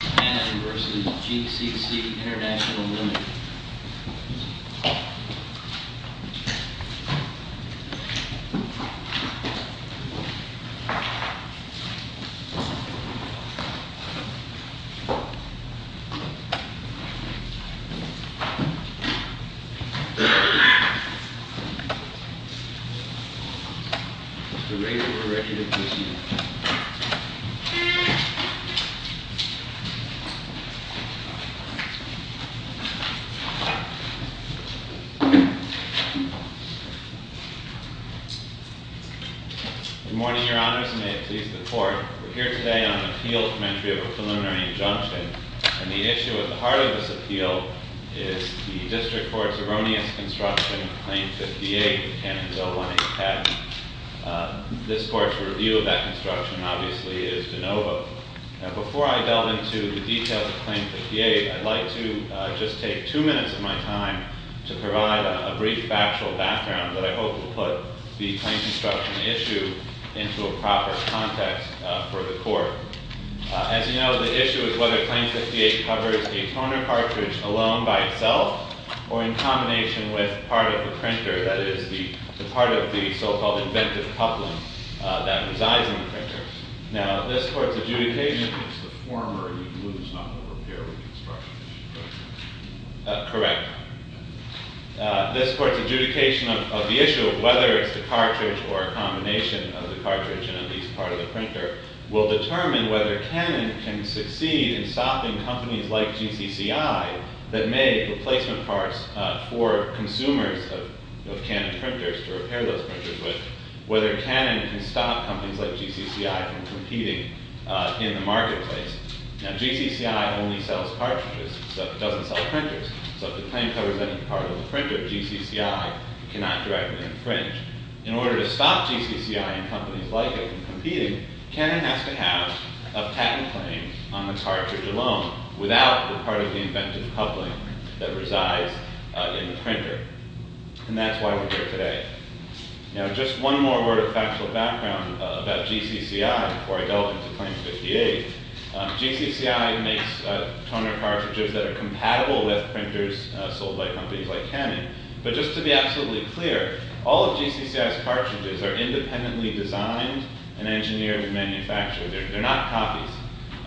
Canada v. GCC Intl Ltd At the rate we're ready to proceed. Good morning, Your Honors, and may it please the Court. We're here today on an appeal from entry of a preliminary injunction. And the issue at the heart of this appeal is the District Court's erroneous construction of Claim 58 of the Canada Bill 187. This Court's review of that construction obviously is de novo. Now, before I delve into the details of Claim 58, I'd like to just take two minutes of my time to provide a brief factual background that I hope will put the claim construction issue into a proper context for the Court. As you know, the issue is whether Claim 58 covers a toner cartridge alone by itself or in combination with part of the printer, that is, the part of the so-called inventive coupling that resides in the printer. Now, this Court's adjudication of the issue of whether it's the cartridge or a combination of the cartridge and at least part of the printer will determine whether Canon can succeed in stopping companies like GCCI that make replacement parts for consumers of Canon printers to repair those printers, but whether Canon can stop companies like GCCI from competing in the marketplace. Now, GCCI only sells cartridges, so it doesn't sell printers. So if the claim covers any part of the printer, GCCI cannot directly infringe. In order to stop GCCI and companies like it from competing, Canon has to have a patent claim on the cartridge alone without the part of the inventive coupling that resides in the printer. And that's why we're here today. Now, just one more word of factual background about GCCI before I delve into Claim 58. GCCI makes toner cartridges that are compatible with printers sold by companies like Canon. But just to be absolutely clear, all of GCCI's cartridges are independently designed and engineered and manufactured. They're not copies.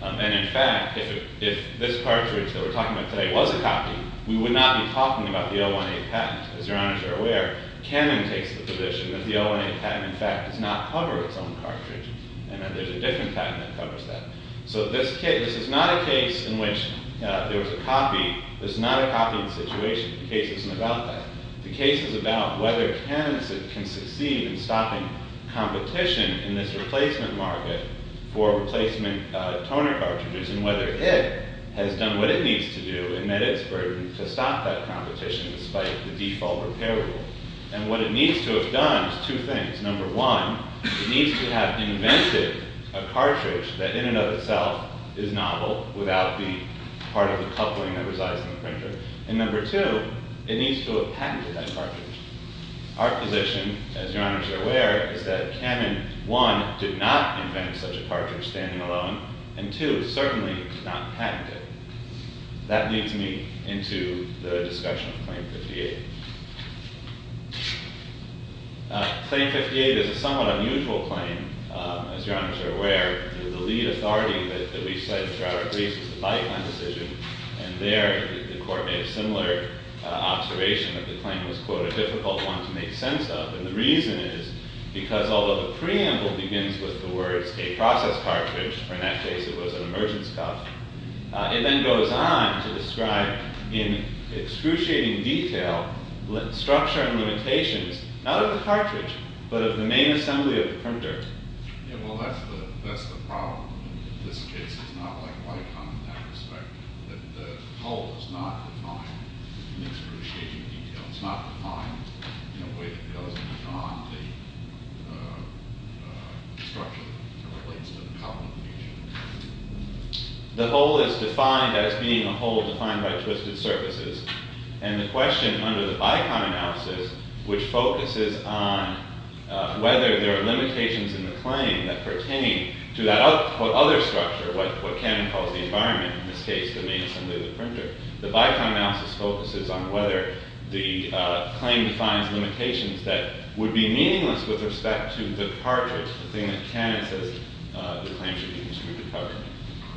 And in fact, if this cartridge that we're talking about today was a copy, we would not be talking about the L1A patent. As your honors are aware, Canon takes the position that the L1A patent, in fact, does not cover its own cartridge. And then there's a different patent that covers that. So this is not a case in which there was a copy. This is not a copying situation. The case isn't about that. The case is about whether Canon can succeed in stopping competition in this replacement market for replacement toner cartridges and whether it has done what it needs to do in that it's proven to stop that competition despite the default repair rule. And what it needs to have done is two things. Number one, it needs to have invented a cartridge that in and of itself is novel without the part of the coupling that resides in the printer. And number two, it needs to have patented that cartridge. Our position, as your honors are aware, is that Canon, one, did not invent such a cartridge standing alone. And two, certainly did not patent it. That leads me into the discussion of Claim 58. Claim 58 is a somewhat unusual claim, as your honors are aware. The lead authority that we said throughout our briefs was the body plan decision. And there, the court made a similar observation of the claim. It was, quote, a difficult one to make sense of. And the reason is because although the preamble begins with the words, a process cartridge, or in that case, it was an emergence cup, it then goes on to describe in excruciating detail structure and limitations, not of the cartridge, but of the main assembly of the printer. Yeah, well, that's the problem. In this case, it's not like BICOM in that respect. The hole is not defined in excruciating detail. It's not defined in a way that goes beyond the structure that relates to the problem. The hole is defined as being a hole defined by twisted surfaces. And the question under the BICOM analysis, which focuses on whether there are limitations in the claim that pertain to that other structure, what Cannon calls the environment, in this case, the main assembly of the printer, the BICOM analysis focuses on whether the claim defines limitations that would be meaningless with respect to the cartridge, the thing that Cannon says the claim should be excluded from.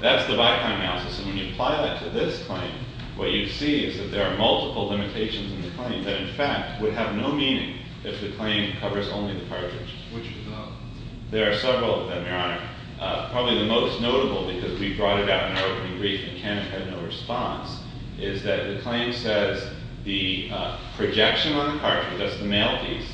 That's the BICOM analysis. And when you apply that to this claim, what you see is that there are multiple limitations in the claim that, in fact, would have no meaning if the claim covers only the cartridge. Which of the? There are several of them, Your Honor. Probably the most notable, because we brought it up in our opening brief and Cannon had no response, is that the claim says the projection on the cartridge, that's the male piece,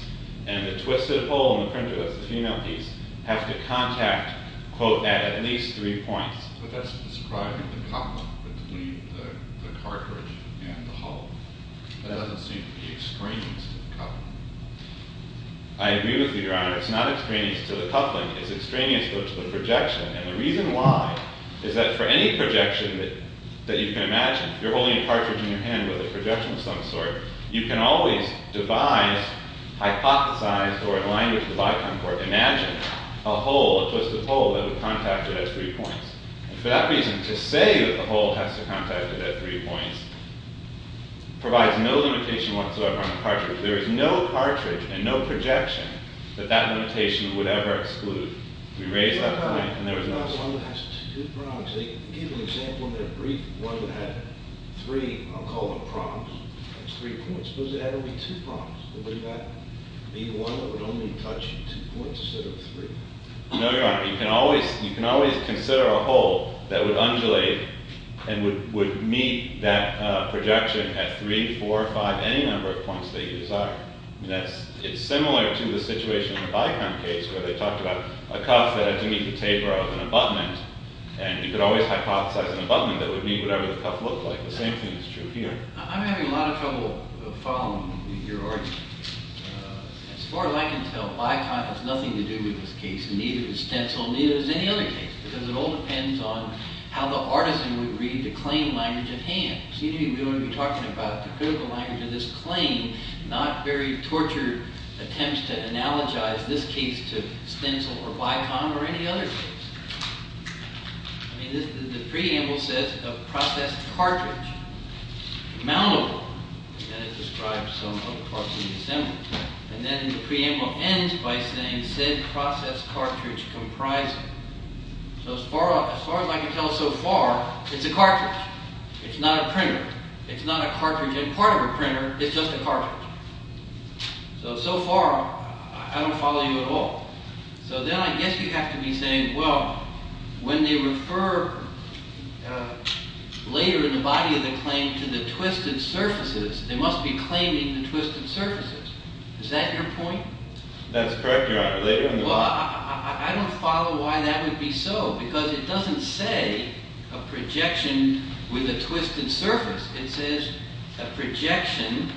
and the twisted hole in the printer, that's the female piece, have to contact, quote, at least three points. But that's describing the coupling between the cartridge and the hole. That doesn't seem to be extraneous to the coupling. I agree with you, Your Honor. It's not extraneous to the coupling. It's extraneous to the projection. And the reason why is that for any projection that you can imagine, you're holding a cartridge in your hand with a projection of some sort, you can always devise, hypothesize, or in language of the lifetime court, imagine a hole, a twisted hole, that would contact it at three points. And for that reason, to say that the hole has to contact it at three points provides no limitation whatsoever on the cartridge. There is no cartridge and no projection that that limitation would ever exclude. We raised that point and there was no solution. They gave an example in their brief, one that had three, I'll call them prongs, three points. Suppose it had only two prongs. Would that be one that would only touch two points instead of three? No, Your Honor. You can always consider a hole that would undulate and would meet that projection at three, four, or five, any number of points that you desire. It's similar to the situation in the Bikram case, where they talked about a cuff that had to meet the taper of an abutment, and you could always hypothesize an abutment that would meet whatever the cuff looked like. The same thing is true here. I'm having a lot of trouble following your argument. As far as I can tell, Bikram has nothing to do with this case, neither does Stencil, neither does any other case, because it all depends on how the artisan would read the claim language at hand. You're going to be talking about the critical language of this claim, not very tortured attempts to analogize this case to Stencil or Bikram or any other case. The preamble says a processed cartridge, mountable, and it describes some of the parts in the assembly. And then the preamble ends by saying, said processed cartridge comprising. So as far as I can tell so far, it's a cartridge. It's not a printer. It's not a cartridge and part of a printer. It's just a cartridge. So, so far, I don't follow you at all. So then I guess you have to be saying, well, when they refer later in the body of the claim to the twisted surfaces, they must be claiming the twisted surfaces. Is that your point? That's correct, Your Honor. Well, I don't follow why that would be so, because it doesn't say a projection with a twisted surface. It says a projection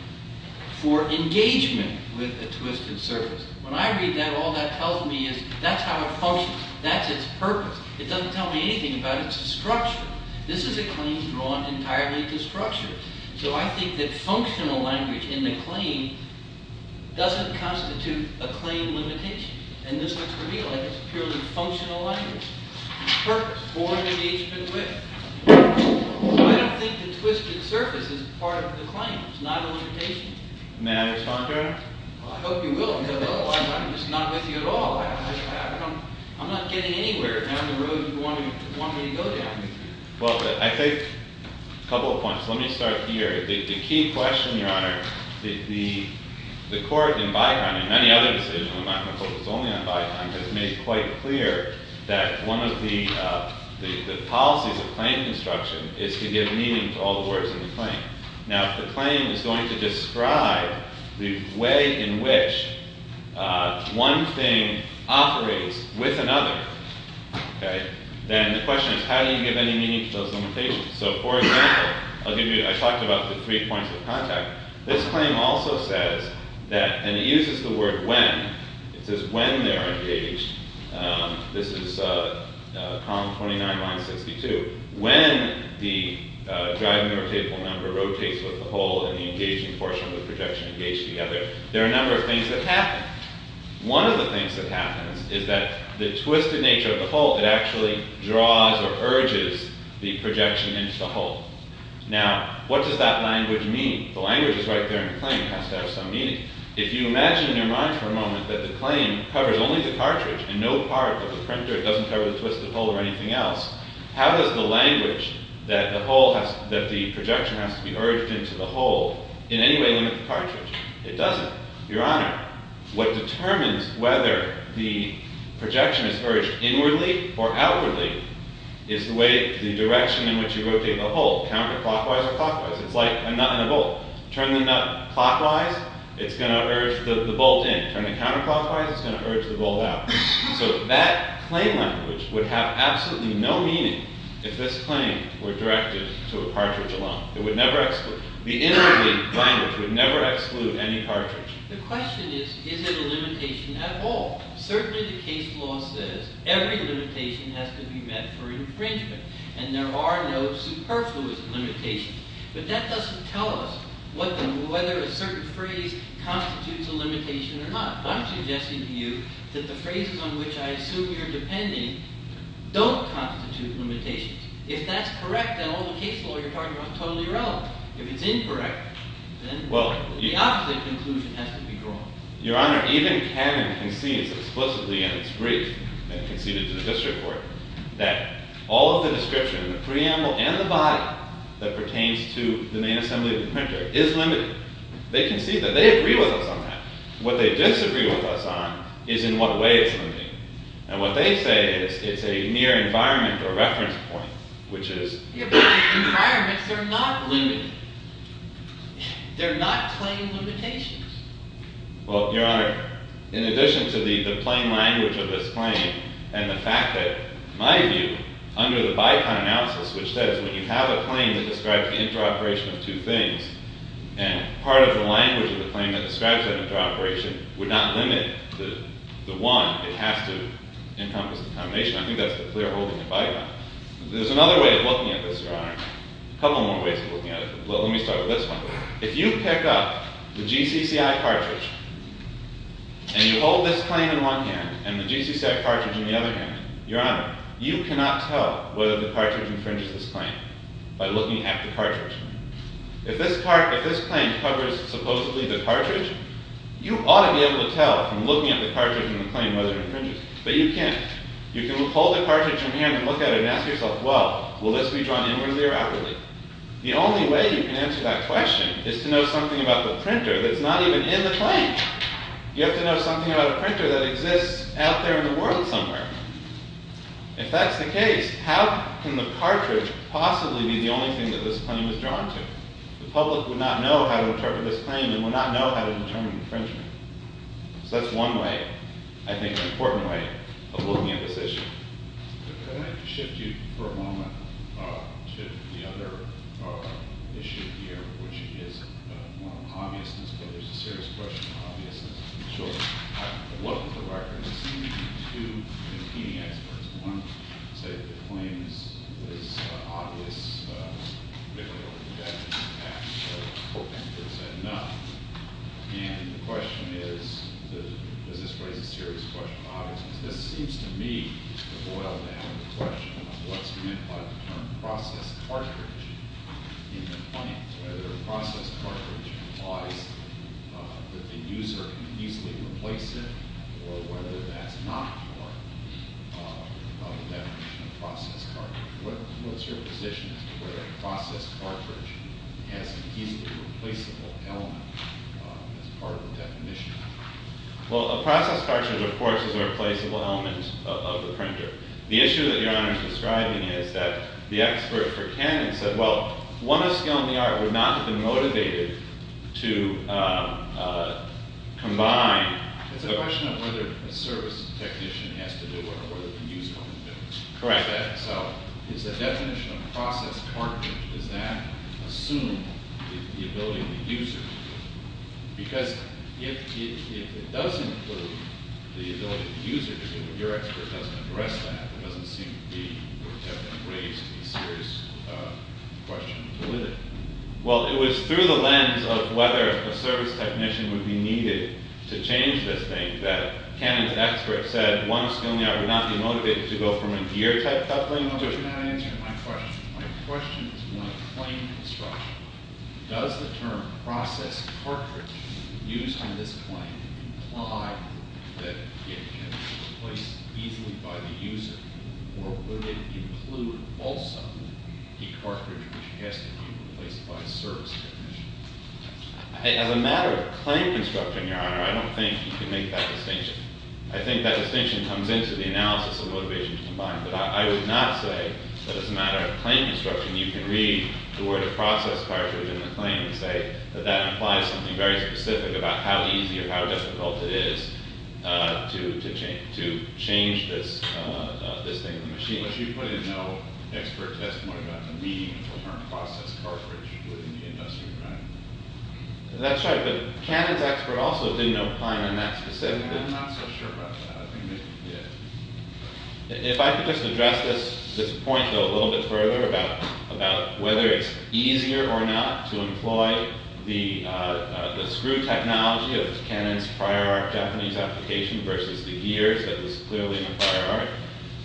for engagement with a twisted surface. When I read that, all that tells me is that's how it functions. That's its purpose. It doesn't tell me anything about its structure. This is a claim drawn entirely to structure. So I think that functional language in the claim doesn't constitute a claim limitation. And this looks for me like it's purely functional language. Purpose for engagement with. I don't think the twisted surface is part of the claim. It's not a limitation. May I respond, Your Honor? Well, I hope you will. Because, oh, I'm just not with you at all. I'm not getting anywhere down the road you want me to go down. Well, but I think a couple of points. Let me start here. The key question, Your Honor, the court in Beiheim and many other decisions, I'm not going to focus only on Beiheim, but it's made quite clear that one of the policies of claim construction is to give meaning to all the words in the claim. Now, if the claim is going to describe the way in which one thing operates with another, then the question is how do you give any meaning to those limitations? So, for example, I talked about the three points of contact. This claim also says that, and it uses the word when. It says when they're engaged. This is Column 29, Line 62. When the driving rotatable member rotates with the hole and the engaging portion of the projection engage together, there are a number of things that happen. One of the things that happens is that the twisted nature of the hole, it actually draws or urges the projection into the hole. Now, what does that language mean? The language is right there in the claim. It has to have some meaning. If you imagine in your mind for a moment that the claim covers only the cartridge and no part of the printer doesn't cover the twisted hole or anything else, how does the language that the projection has to be urged into the hole in any way limit the cartridge? It doesn't, Your Honor. What determines whether the projection is urged inwardly or outwardly is the direction in which you rotate the hole, counterclockwise or clockwise. It's like a nut and a bolt. Turn the nut clockwise, it's going to urge the bolt in. Turn it counterclockwise, it's going to urge the bolt out. So that claim language would have absolutely no meaning if this claim were directed to a cartridge alone. It would never exclude. The inwardly language would never exclude any cartridge. The question is, is it a limitation at all? Certainly the case law says every limitation has to be met for infringement, and there are no superfluous limitations. But that doesn't tell us whether a certain phrase constitutes a limitation or not. I'm suggesting to you that the phrases on which I assume you're depending don't constitute limitations. If that's correct, then all the case law you're talking about is totally irrelevant. If it's incorrect, then the opposite conclusion has to be drawn. Your Honor, even Canon concedes explicitly in its brief and conceded to the district court that all of the description in the preamble and the body that pertains to the main assembly of the printer is limited. They concede that. They agree with us on that. What they disagree with us on is in what way it's limited. And what they say is it's a mere environment or reference point, which is... Your Honor, environments are not limited. They're not plain limitations. Well, Your Honor, in addition to the plain language of this claim and the fact that, in my view, under the Bicon analysis, which says when you have a claim that describes the interoperation of two things and part of the language of the claim that describes that interoperation would not limit the one. It has to encompass the combination. I think that's the clear hole in the Bicon. There's another way of looking at this, Your Honor. A couple more ways of looking at it. Let me start with this one. If you pick up the GCCI cartridge and you hold this claim in one hand and the GCCI cartridge in the other hand, Your Honor, you cannot tell whether the cartridge infringes this claim by looking at the cartridge. If this claim covers supposedly the cartridge, you ought to be able to tell from looking at the cartridge in the claim whether it infringes it. But you can't. You can hold the cartridge in your hand and look at it and ask yourself, well, will this be drawn inwardly or outwardly? The only way you can answer that question is to know something about the printer that's not even in the claim. You have to know something about a printer that exists out there in the world somewhere. If that's the case, how can the cartridge possibly be the only thing that this claim is drawn to? The public would not know how to interpret this claim and would not know how to determine infringement. So that's one way, I think, an important way of looking at this issue. I'd like to shift you for a moment to the other issue here, which is more of an obviousness, but there's a serious question of obviousness. I looked at the record and there seemed to be two competing experts. One said the claim is obvious, particularly looking at the impact of coping. They said no. And the question is, does this raise a serious question of obviousness? This seems to me to boil down to the question of what's meant by the term process cartridge in the claim, whether a process cartridge implies that the user can easily replace it or whether that's not part of the definition of process cartridge. What's your position as to whether a process cartridge has an easily replaceable element as part of the definition? Well, a process cartridge, of course, is a replaceable element of the printer. The issue that Your Honor is describing is that the expert for Canon said, well, one of skill and the art would not have been motivated to combine. It's a question of whether a service technician has to do it or whether the user can do it. Correct. So is the definition of process cartridge, does that assume the ability of the user? Because if it does include the ability of the user to do it, your expert doesn't address that. It doesn't seem to have raised a serious question of validity. Well, it was through the lens of whether a service technician would be needed to change this thing that Canon's expert said one of skill and the art would not be motivated to go from a gear type coupling to My question is one of claim construction. Does the term process cartridge used on this claim imply that it can be replaced easily by the user or would it include also the cartridge which has to be replaced by a service technician? As a matter of claim construction, Your Honor, I don't think you can make that distinction. I think that distinction comes into the analysis of motivation to combine. But I would not say that as a matter of claim construction, you can read the word process cartridge in the claim and say that that implies something very specific about how easy or how difficult it is to change this thing in the machine. But you put in no expert testimony about the need for the term process cartridge within the industry, right? That's right, but Canon's expert also didn't apply it in that specific. I'm not so sure about that. If I could just address this point a little bit further about whether it's easier or not to employ the screw technology of Canon's prior art Japanese application versus the gears that was clearly in the prior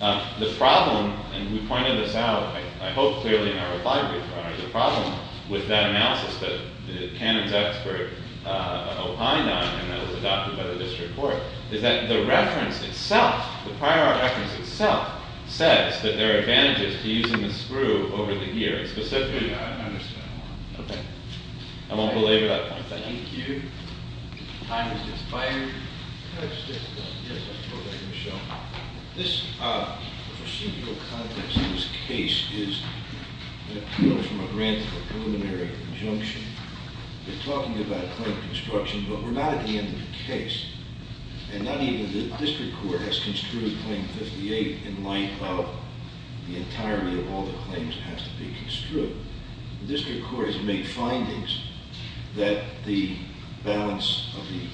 art. The problem, and we pointed this out, I hope clearly in our reply, Your Honor, the problem with that analysis that Canon's expert opined on and that was adopted by the district court is that the reference itself, the prior art reference itself, says that there are advantages to using the screw over the gears. Specifically, I don't understand why. Okay. I won't belabor that point. Thank you. Time is expired. Can I just add to that? Yes, I'll throw that in the show. This procedural context in this case is, you know, from a random preliminary conjunction. We're talking about claim construction, but we're not at the end of the case. And not even the district court has construed Claim 58 in light of the entirety of all the claims that have to be construed. The district court has made findings that the balance of the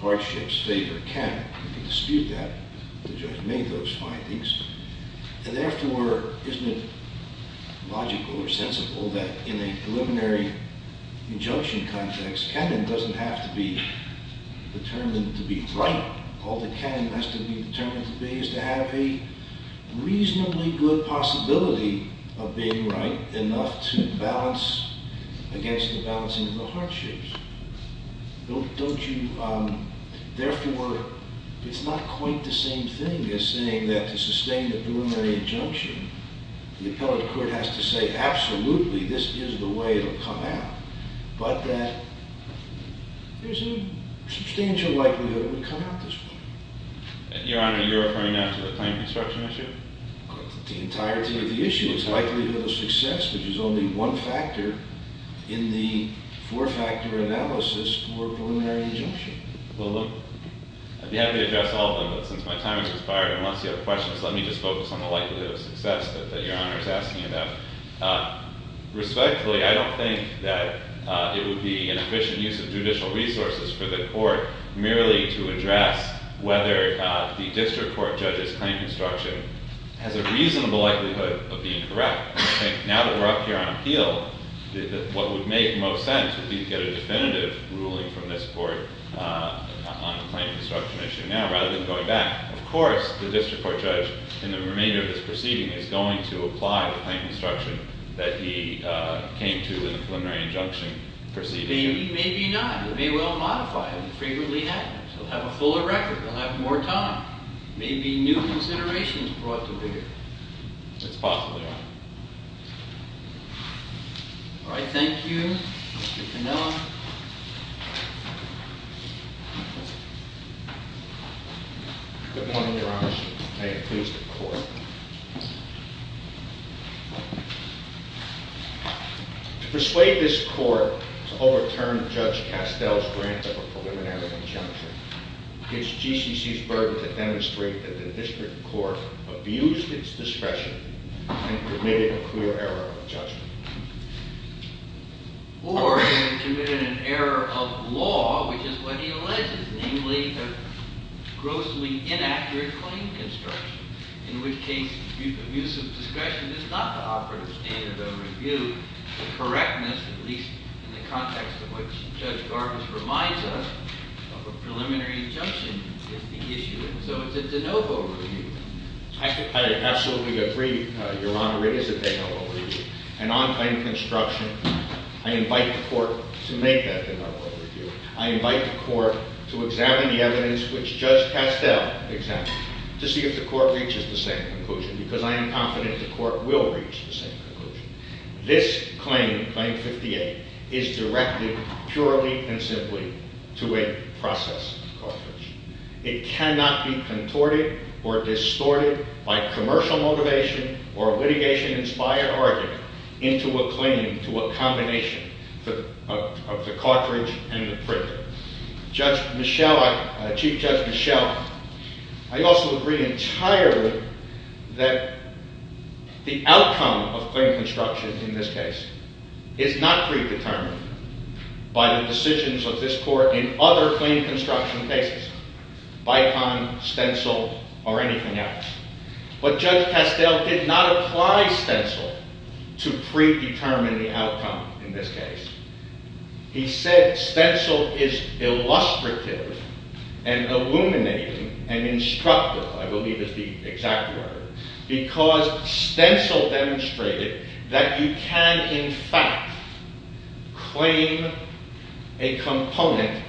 hardships favored Canon. We can dispute that, but the judge made those findings. And therefore, isn't it logical or sensible that in a preliminary injunction context, Canon doesn't have to be determined to be right. All that Canon has to be determined to be is to have a reasonably good possibility of being right enough to balance against the balancing of the hardships. Therefore, it's not quite the same thing as saying that to sustain a preliminary injunction, the appellate court has to say, absolutely, this is the way it will come out. But that there's a substantial likelihood it will come out this way. Your Honor, you're referring now to the claim construction issue? The entirety of the issue is likelihood of success, which is only one factor in the four-factor analysis for preliminary injunction. Well, look, I'd be happy to address all of them, but since my time has expired, unless you have questions, let me just focus on the likelihood of success that Your Honor is asking about. Respectfully, I don't think that it would be an efficient use of judicial resources for the court merely to address whether the district court judge's claim construction has a reasonable likelihood of being correct. Now that we're up here on appeal, what would make most sense would be to get a definitive ruling from this court on the claim construction issue now rather than going back. Of course, the district court judge, in the remainder of this proceeding, is going to apply the claim construction that he came to in the preliminary injunction proceeding. Maybe, maybe not. It may well modify it. It frequently happens. He'll have a fuller record. He'll have more time. Maybe new considerations brought to bear. It's possible, Your Honor. All right, thank you. Mr. Cannella. To persuade this court to overturn Judge Castel's grant of a preliminary injunction gives GCC's burden to demonstrate that the district court abused its discretion and committed a clear error of judgment. Or it committed an error of law, which is what he alleges, namely a grossly inaccurate claim construction in which case abuse of discretion is not the operative standard of review. The correctness, at least in the context of which Judge Garbus reminds us, of a preliminary injunction is the issue. And so it's a de novo review. I absolutely agree, Your Honor, it is a de novo review. And on claim construction, I invite the court to make that de novo review. I invite the court to examine the evidence which Judge Castel examined to see if the court reaches the same conclusion, because I am confident the court will reach the same conclusion. This claim, Claim 58, is directed purely and simply to a process of cartridge. It cannot be contorted or distorted by commercial motivation or litigation-inspired argument into a claim to a combination of the cartridge and the printer. Chief Judge Michel, I also agree entirely that the outcome of claim construction in this case is not predetermined by the decisions of this court in other claim construction cases, Bicon, Stencil, or anything else. But Judge Castel did not apply Stencil to predetermine the outcome in this case. He said Stencil is illustrative and illuminating and instructive, I believe is the exact word, because Stencil demonstrated that you can in fact claim a component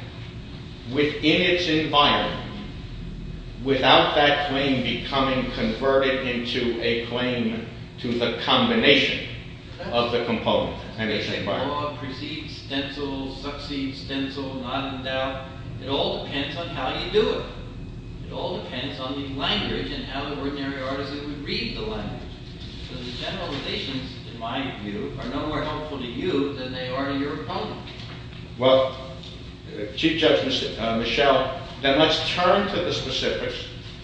within its environment without that claim becoming converted into a claim to the combination of the component and its environment. The law precedes Stencil, succeeds Stencil, not in doubt. It all depends on how you do it. It all depends on the language and how the ordinary artisan would read the language. So the generalizations, in my view, are no more helpful to you than they are to your opponent. Well, Chief Judge Michel, then let's turn to the specifics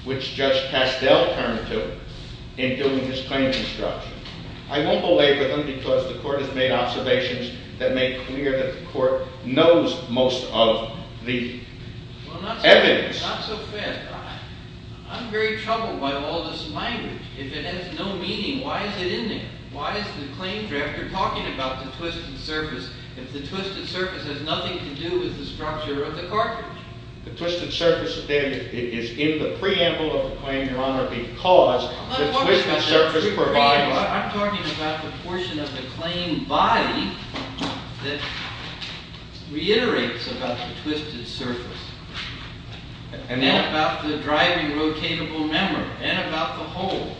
which Judge Castel turned to in doing his claim construction. I won't belabor them because the court has made observations that make clear that the court knows most of the evidence. Well, not so fast. I'm very troubled by all this language. If it has no meaning, why is it in there? Why is the claim drafter talking about the twisted surface if the twisted surface has nothing to do with the structure of the cartridge? I'm talking about the portion of the claim body that reiterates about the twisted surface and then about the driving rotatable member and about the hole.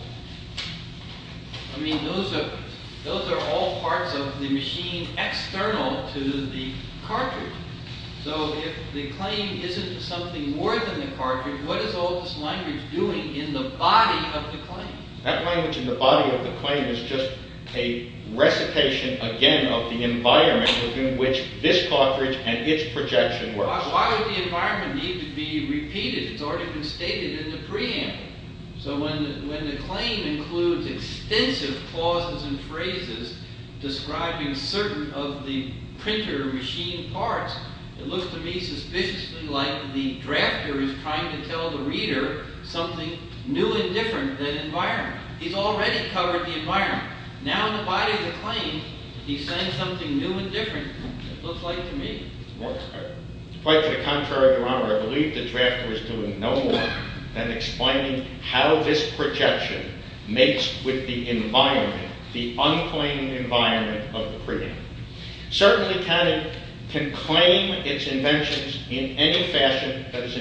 I mean, those are all parts of the machine external to the cartridge. So if the claim isn't something more than the cartridge, what is all this language doing in the body of the claim? That language in the body of the claim is just a recitation, again, of the environment within which this cartridge and its projection works. Why would the environment need to be repeated? It's already been stated in the preamble. So when the claim includes extensive clauses and phrases describing certain of the printer machine parts, it looks to me suspiciously like the drafter is trying to tell the reader something new and different than environment. He's already covered the environment. Now in the body of the claim, he's saying something new and different. It looks like to me. Quite to the contrary, Your Honor, I believe the drafter is doing no more than explaining how this projection makes with the environment, the unclaimed environment of the preamble. Certainly Canada can claim its inventions in any fashion that is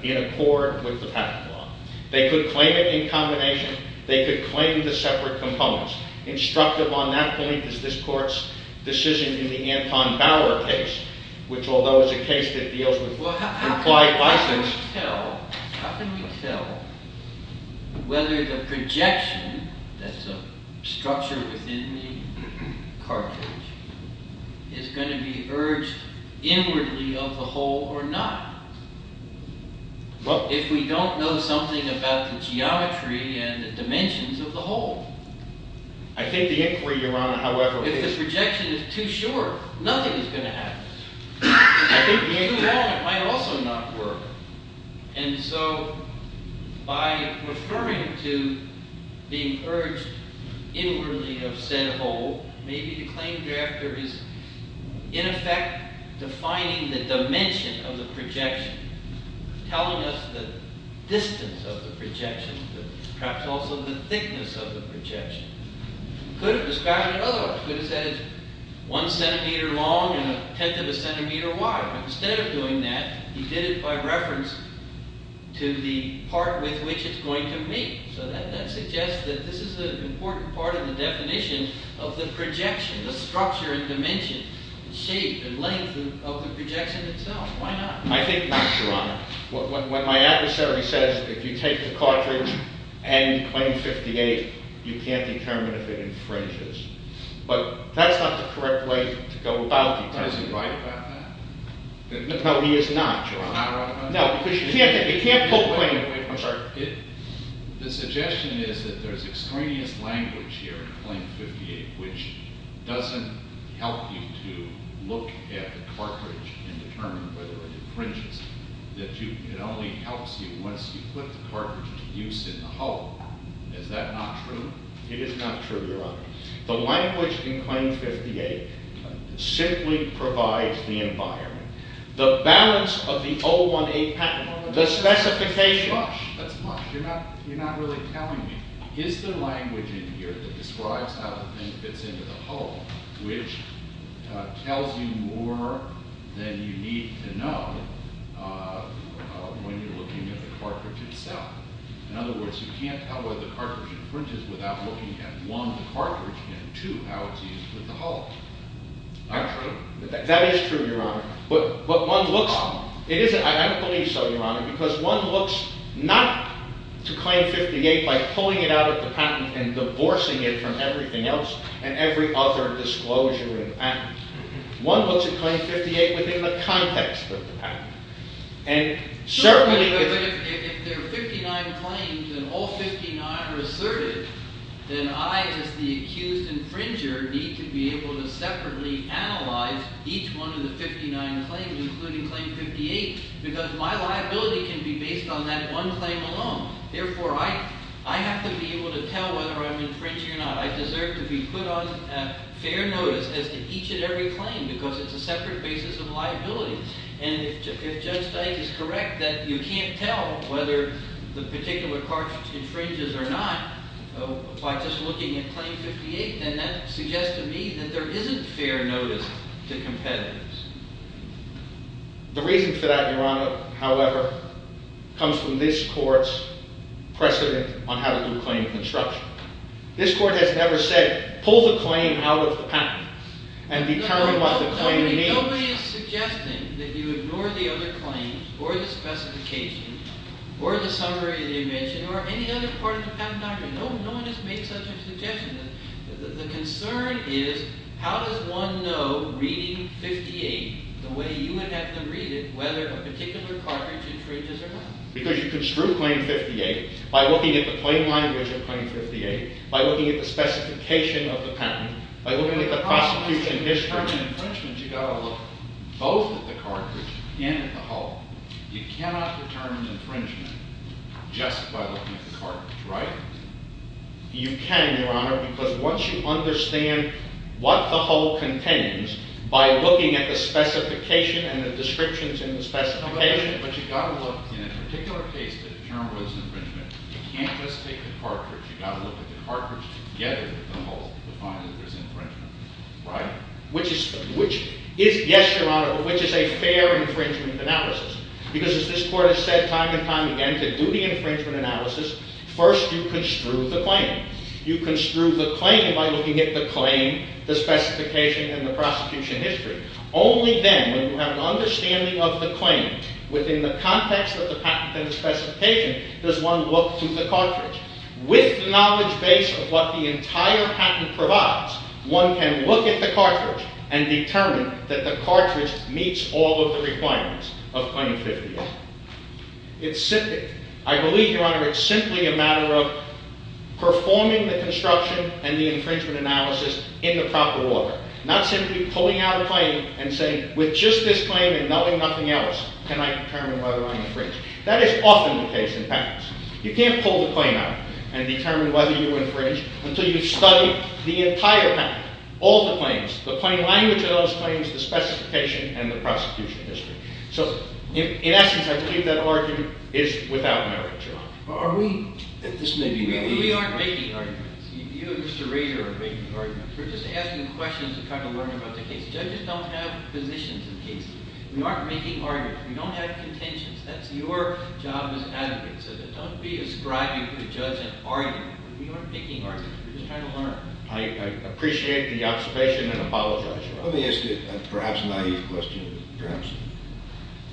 in accord with the patent law. They could claim it in combination. They could claim the separate components. Instructive on that point is this Court's decision in the Anton Bauer case, which although is a case that deals with implied license. How can we tell whether the projection, that's a structure within the cartridge, is going to be urged inwardly of the whole or not? Well, if we don't know something about the geometry and the dimensions of the whole. I think the inquiry, Your Honor, however... If the projection is too short, nothing is going to happen. If it's too long, it might also not work. And so by referring to being urged inwardly of said whole, maybe the claim drafter is, in effect, defining the dimension of the projection, telling us the distance of the projection, perhaps also the thickness of the projection. Could have described it otherwise. Could have said it's one centimeter long and a tenth of a centimeter wide. But instead of doing that, he did it by reference to the part with which it's going to meet. So that suggests that this is an important part of the definition of the projection, the structure and dimension, shape and length of the projection itself. Why not? I think, Your Honor, what my adversary says, if you take the cartridge and you claim 58, you can't determine if it infringes. But that's not the correct way to go about it. Is he right about that? No, he is not, Your Honor. He's not right about that? No, because you can't... The suggestion is that there's extraneous language here in Claim 58 which doesn't help you to look at the cartridge and determine whether it infringes. It only helps you once you put the cartridge to use in the whole. Is that not true? It is not true, Your Honor. The language in Claim 58 simply provides the environment. The balance of the 018 patent, the specification... That's much. You're not really telling me. Is the language in here that describes how the thing fits into the whole which tells you more than you need to know when you're looking at the cartridge itself? In other words, you can't tell whether the cartridge infringes without looking at, one, the cartridge, and, two, how it's used with the whole. That's right. That is true, Your Honor. But one looks... I don't believe so, Your Honor, because one looks not to Claim 58 by pulling it out of the patent and divorcing it from everything else One looks at Claim 58 within the context of the patent. Sure, but if there are 59 claims and all 59 are asserted, then I, as the accused infringer, need to be able to separately analyze each one of the 59 claims, including Claim 58, because my liability can be based on that one claim alone. Therefore, I have to be able to tell whether I'm infringing or not. I deserve to be put on fair notice as to each and every claim because it's a separate basis of liability. And if Judge Steink is correct that you can't tell whether the particular cartridge infringes or not by just looking at Claim 58, then that suggests to me that there isn't fair notice to competitors. The reason for that, Your Honor, however, comes from this Court's precedent on how to do claim construction. This Court has never said, pull the claim out of the patent and determine what the claim means. Nobody is suggesting that you ignore the other claims or the specifications or the summary that you mentioned or any other part of the patent document. No one has made such a suggestion. The concern is, how does one know, reading 58, the way you would have them read it, whether a particular cartridge infringes or not? Because you construe Claim 58 by looking at the claim language of Claim 58, by looking at the specification of the patent, by looking at the prosecution history. You can, Your Honor, because once you understand what the whole contains, by looking at the specification and the descriptions in the specification... Yes, Your Honor, but which is a fair infringement analysis? Because as this Court has said time and time again, to do the infringement analysis, first you construe the claim. You construe the claim by looking at the claim, the specification, and the prosecution history. Only then, when you have an understanding of the claim within the context of the patent and the specification, does one look through the cartridge. With the knowledge base of what the entire patent provides, one can look at the cartridge and determine that the cartridge meets all of the requirements of Claim 58. It's simply... I believe, Your Honor, it's simply a matter of performing the construction and the infringement analysis in the proper order, not simply pulling out a claim and saying, with just this claim and nothing else, can I determine whether I'm infringed? That is often the case in patents. You can't pull the claim out and determine whether you infringe until you've studied the entire patent, all the claims, the plain language of those claims, the specification, and the prosecution history. So, in essence, I believe that argument is without merit, Your Honor. Are we... We aren't making arguments. You, Mr. Rader, are making arguments. We're just asking questions and trying to learn about the case. Judges don't have positions in cases. We aren't making arguments. We don't have contentions. That's your job as advocates of it. Don't be ascribing to the judge an argument. We aren't making arguments. We're just trying to learn. I appreciate the observation and apologize, Your Honor. Let me ask you a perhaps naive question. Perhaps.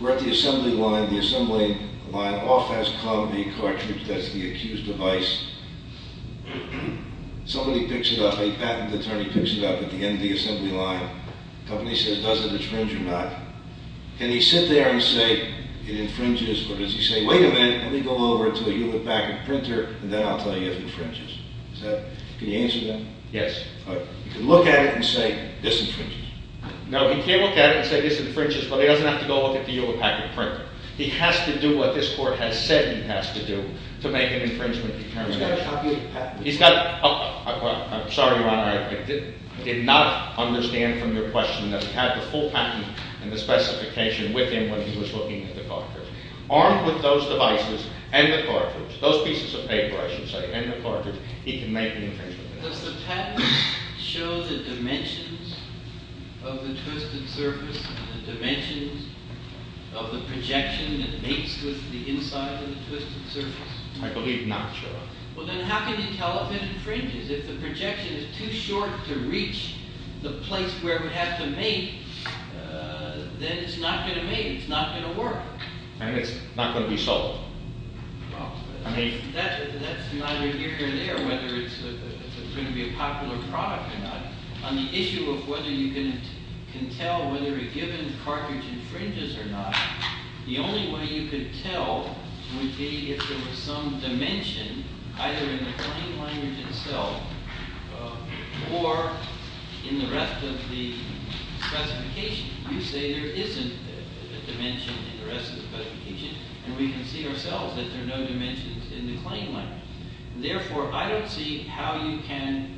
We're at the assembly line. The assembly line off has come the cartridge that's the accused device. Somebody picks it up. A patent attorney picks it up at the end of the assembly line. The company says, does it infringe or not? Can he sit there and say, it infringes, or does he say, wait a minute, let me go over until you look back at the printer, and then I'll tell you if it infringes. Can you answer that? Yes. You can look at it and say, this infringes. No, he can't look at it and say, this infringes, but he doesn't have to go look at the Yule Packet printer. He has to do what this court has said he has to do to make an infringement determination. He's got a copy of the patent. I'm sorry, Your Honor, I did not understand from your question that he had the full patent and the specification with him when he was looking at the cartridge. Armed with those devices and the cartridge, those pieces of paper, I should say, and the cartridge, he can make an infringement. Does the patent show the dimensions of the twisted surface and the dimensions of the projection that meets with the inside of the twisted surface? I believe not, Your Honor. Well, then how can you tell if it infringes? If the projection is too short to reach the place where we have to make, it's not going to work. And it's not going to be solved. Well, that's neither here nor there, whether it's going to be a popular product or not. On the issue of whether you can tell whether a given cartridge infringes or not, the only way you could tell would be if there was some dimension either in the plain language itself or in the rest of the specification. You say there isn't a dimension in the rest of the specification, and we can see ourselves that there are no dimensions in the plain language. Therefore, I don't see how you can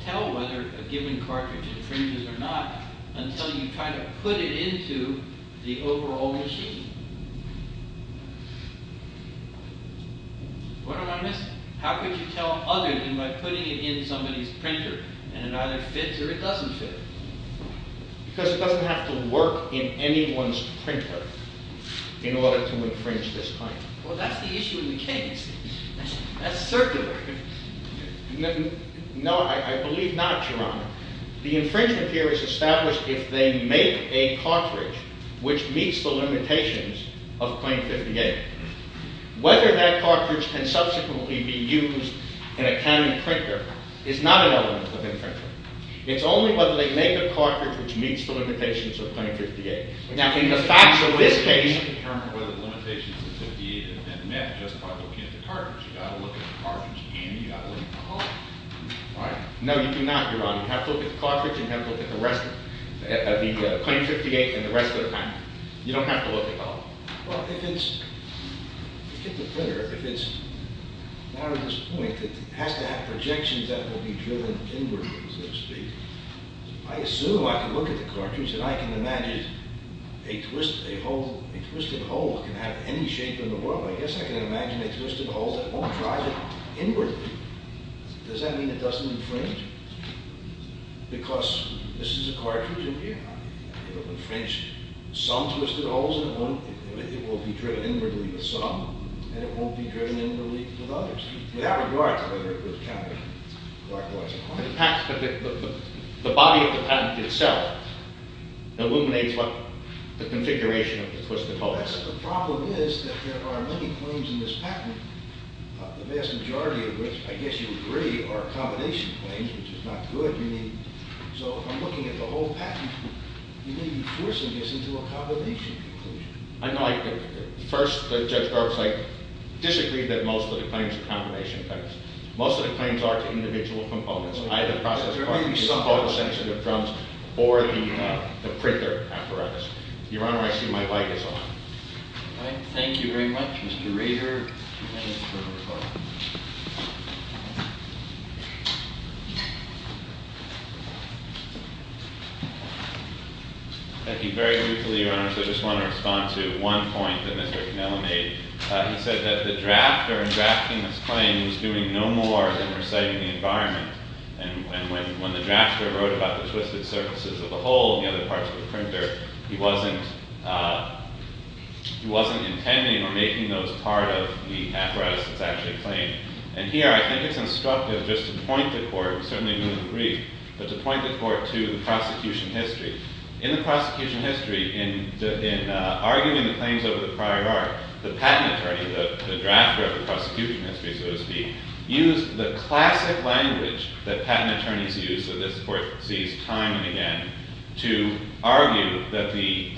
tell whether a given cartridge infringes or not until you try to put it into the overall machine. What am I missing? How could you tell other than by putting it in somebody's printer and it either fits or it doesn't fit? Because it doesn't have to work in anyone's printer. in order to infringe this claim. Well, that's the issue in the case. That's circular. No, I believe not, Your Honor. The infringement here is established if they make a cartridge which meets the limitations of Claim 58. Whether that cartridge can subsequently be used in a county printer is not an element of infringement. It's only whether they make a cartridge which meets the limitations of Claim 58. Now, in the facts of this case... ...determine whether the limitations of 58 have been met just by looking at the cartridge. You've got to look at the cartridge and you've got to look at the hall. Right? No, you do not, Your Honor. You have to look at the cartridge and have a look at the rest... at the Claim 58 and the rest of the time. You don't have to look at the hall. Well, if it's... If it's a printer, if it's... Now, to this point, it has to have projections that will be driven inward, so to speak. I assume I can look at the cartridge and I can imagine a twist... a hole... a twisted hole can have any shape in the world. I guess I can imagine a twisted hole that won't drive it inwardly. Does that mean it doesn't infringe? Because this is a cartridge, Your Honor. It will infringe some twisted holes and it won't... it will be driven inwardly with some and it won't be driven inwardly with others without regard to whether it was counted like a licensed cartridge. The body of the patent itself illuminates what the configuration of the twisted hole is. The problem is that there are many claims in this patent, the vast majority of which, I guess you agree, are combination claims, which is not good. You need... So, if I'm looking at the whole patent, you may be forcing this into a combination conclusion. I know I could. First, Judge Garza disagreed that most of the claims are combination claims. Most of the claims are to individual components, either process cartridges or sensitive drums, or the printer apparatus. Your Honor, I assume my mic is on. Thank you very much, Mr. Rader. Thank you very much, Your Honor. I just want to respond to one point that Mr. Cannella made. He said that the drafter in drafting this claim was doing no more than reciting the environment. And when the drafter wrote about the twisted surfaces of the hole and the other parts of the printer, he wasn't intending or making those part of the apparatus that's actually claimed. And here, I think it's instructive just to point the court, certainly we would agree, but to point the court to the prosecution history. In the prosecution history, in arguing the claims over the prior art, the patent attorney, the drafter of the prosecution history, so to speak, used the classic language that patent attorneys use that this court sees time and again to argue that the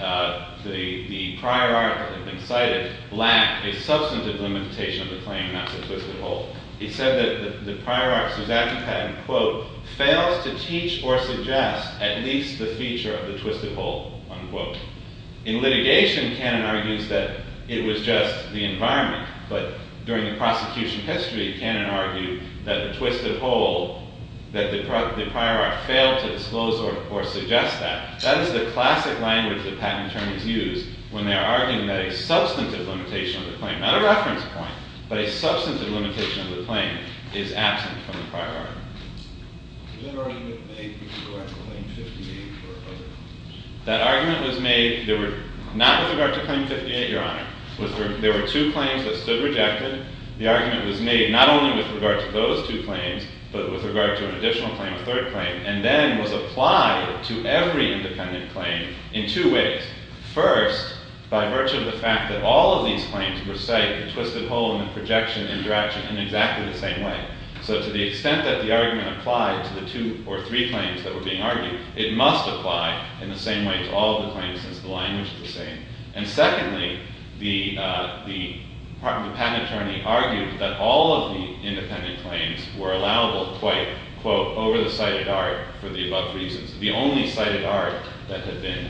prior art that had been cited lacked a substantive limitation of the claim not to twist the hole. He said that the prior art, Susaki patent, quote, fails to teach or suggest at least the feature of the twisted hole, unquote. In litigation, Cannon argues that it was just the environment, but during the prosecution history, Cannon argued that the twisted hole that the prior art failed to disclose or suggest that. That is the classic language that patent attorneys use when they are arguing that a substantive limitation of the claim, not a reference point, but a substantive limitation of the claim is absent from the prior art. That argument was made not with regard to Claim 58, Your Honor. There were two claims that stood rejected. The argument was made not only with regard to those two claims, but with regard to an additional claim, a third claim, and then was applied to every independent claim in two ways. First, by virtue of the fact that all of these claims recite the twisted hole and the projection and direction in exactly the same way. So to the extent that the argument applied to the two or three claims that were being argued, it must apply in the same way to all of the claims since the language is the same. And secondly, the patent attorney argued that all of the independent claims were allowable quite, quote, over the cited art for the above reasons. The only cited art that had been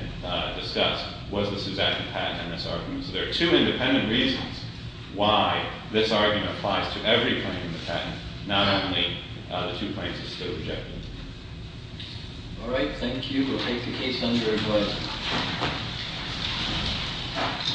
discussed was the Suzannian patent in this argument. So there are two independent reasons why this argument applies to every claim in the patent, not only the two claims that stood rejected. All right. Thank you. We'll take the case under advice. Thank you.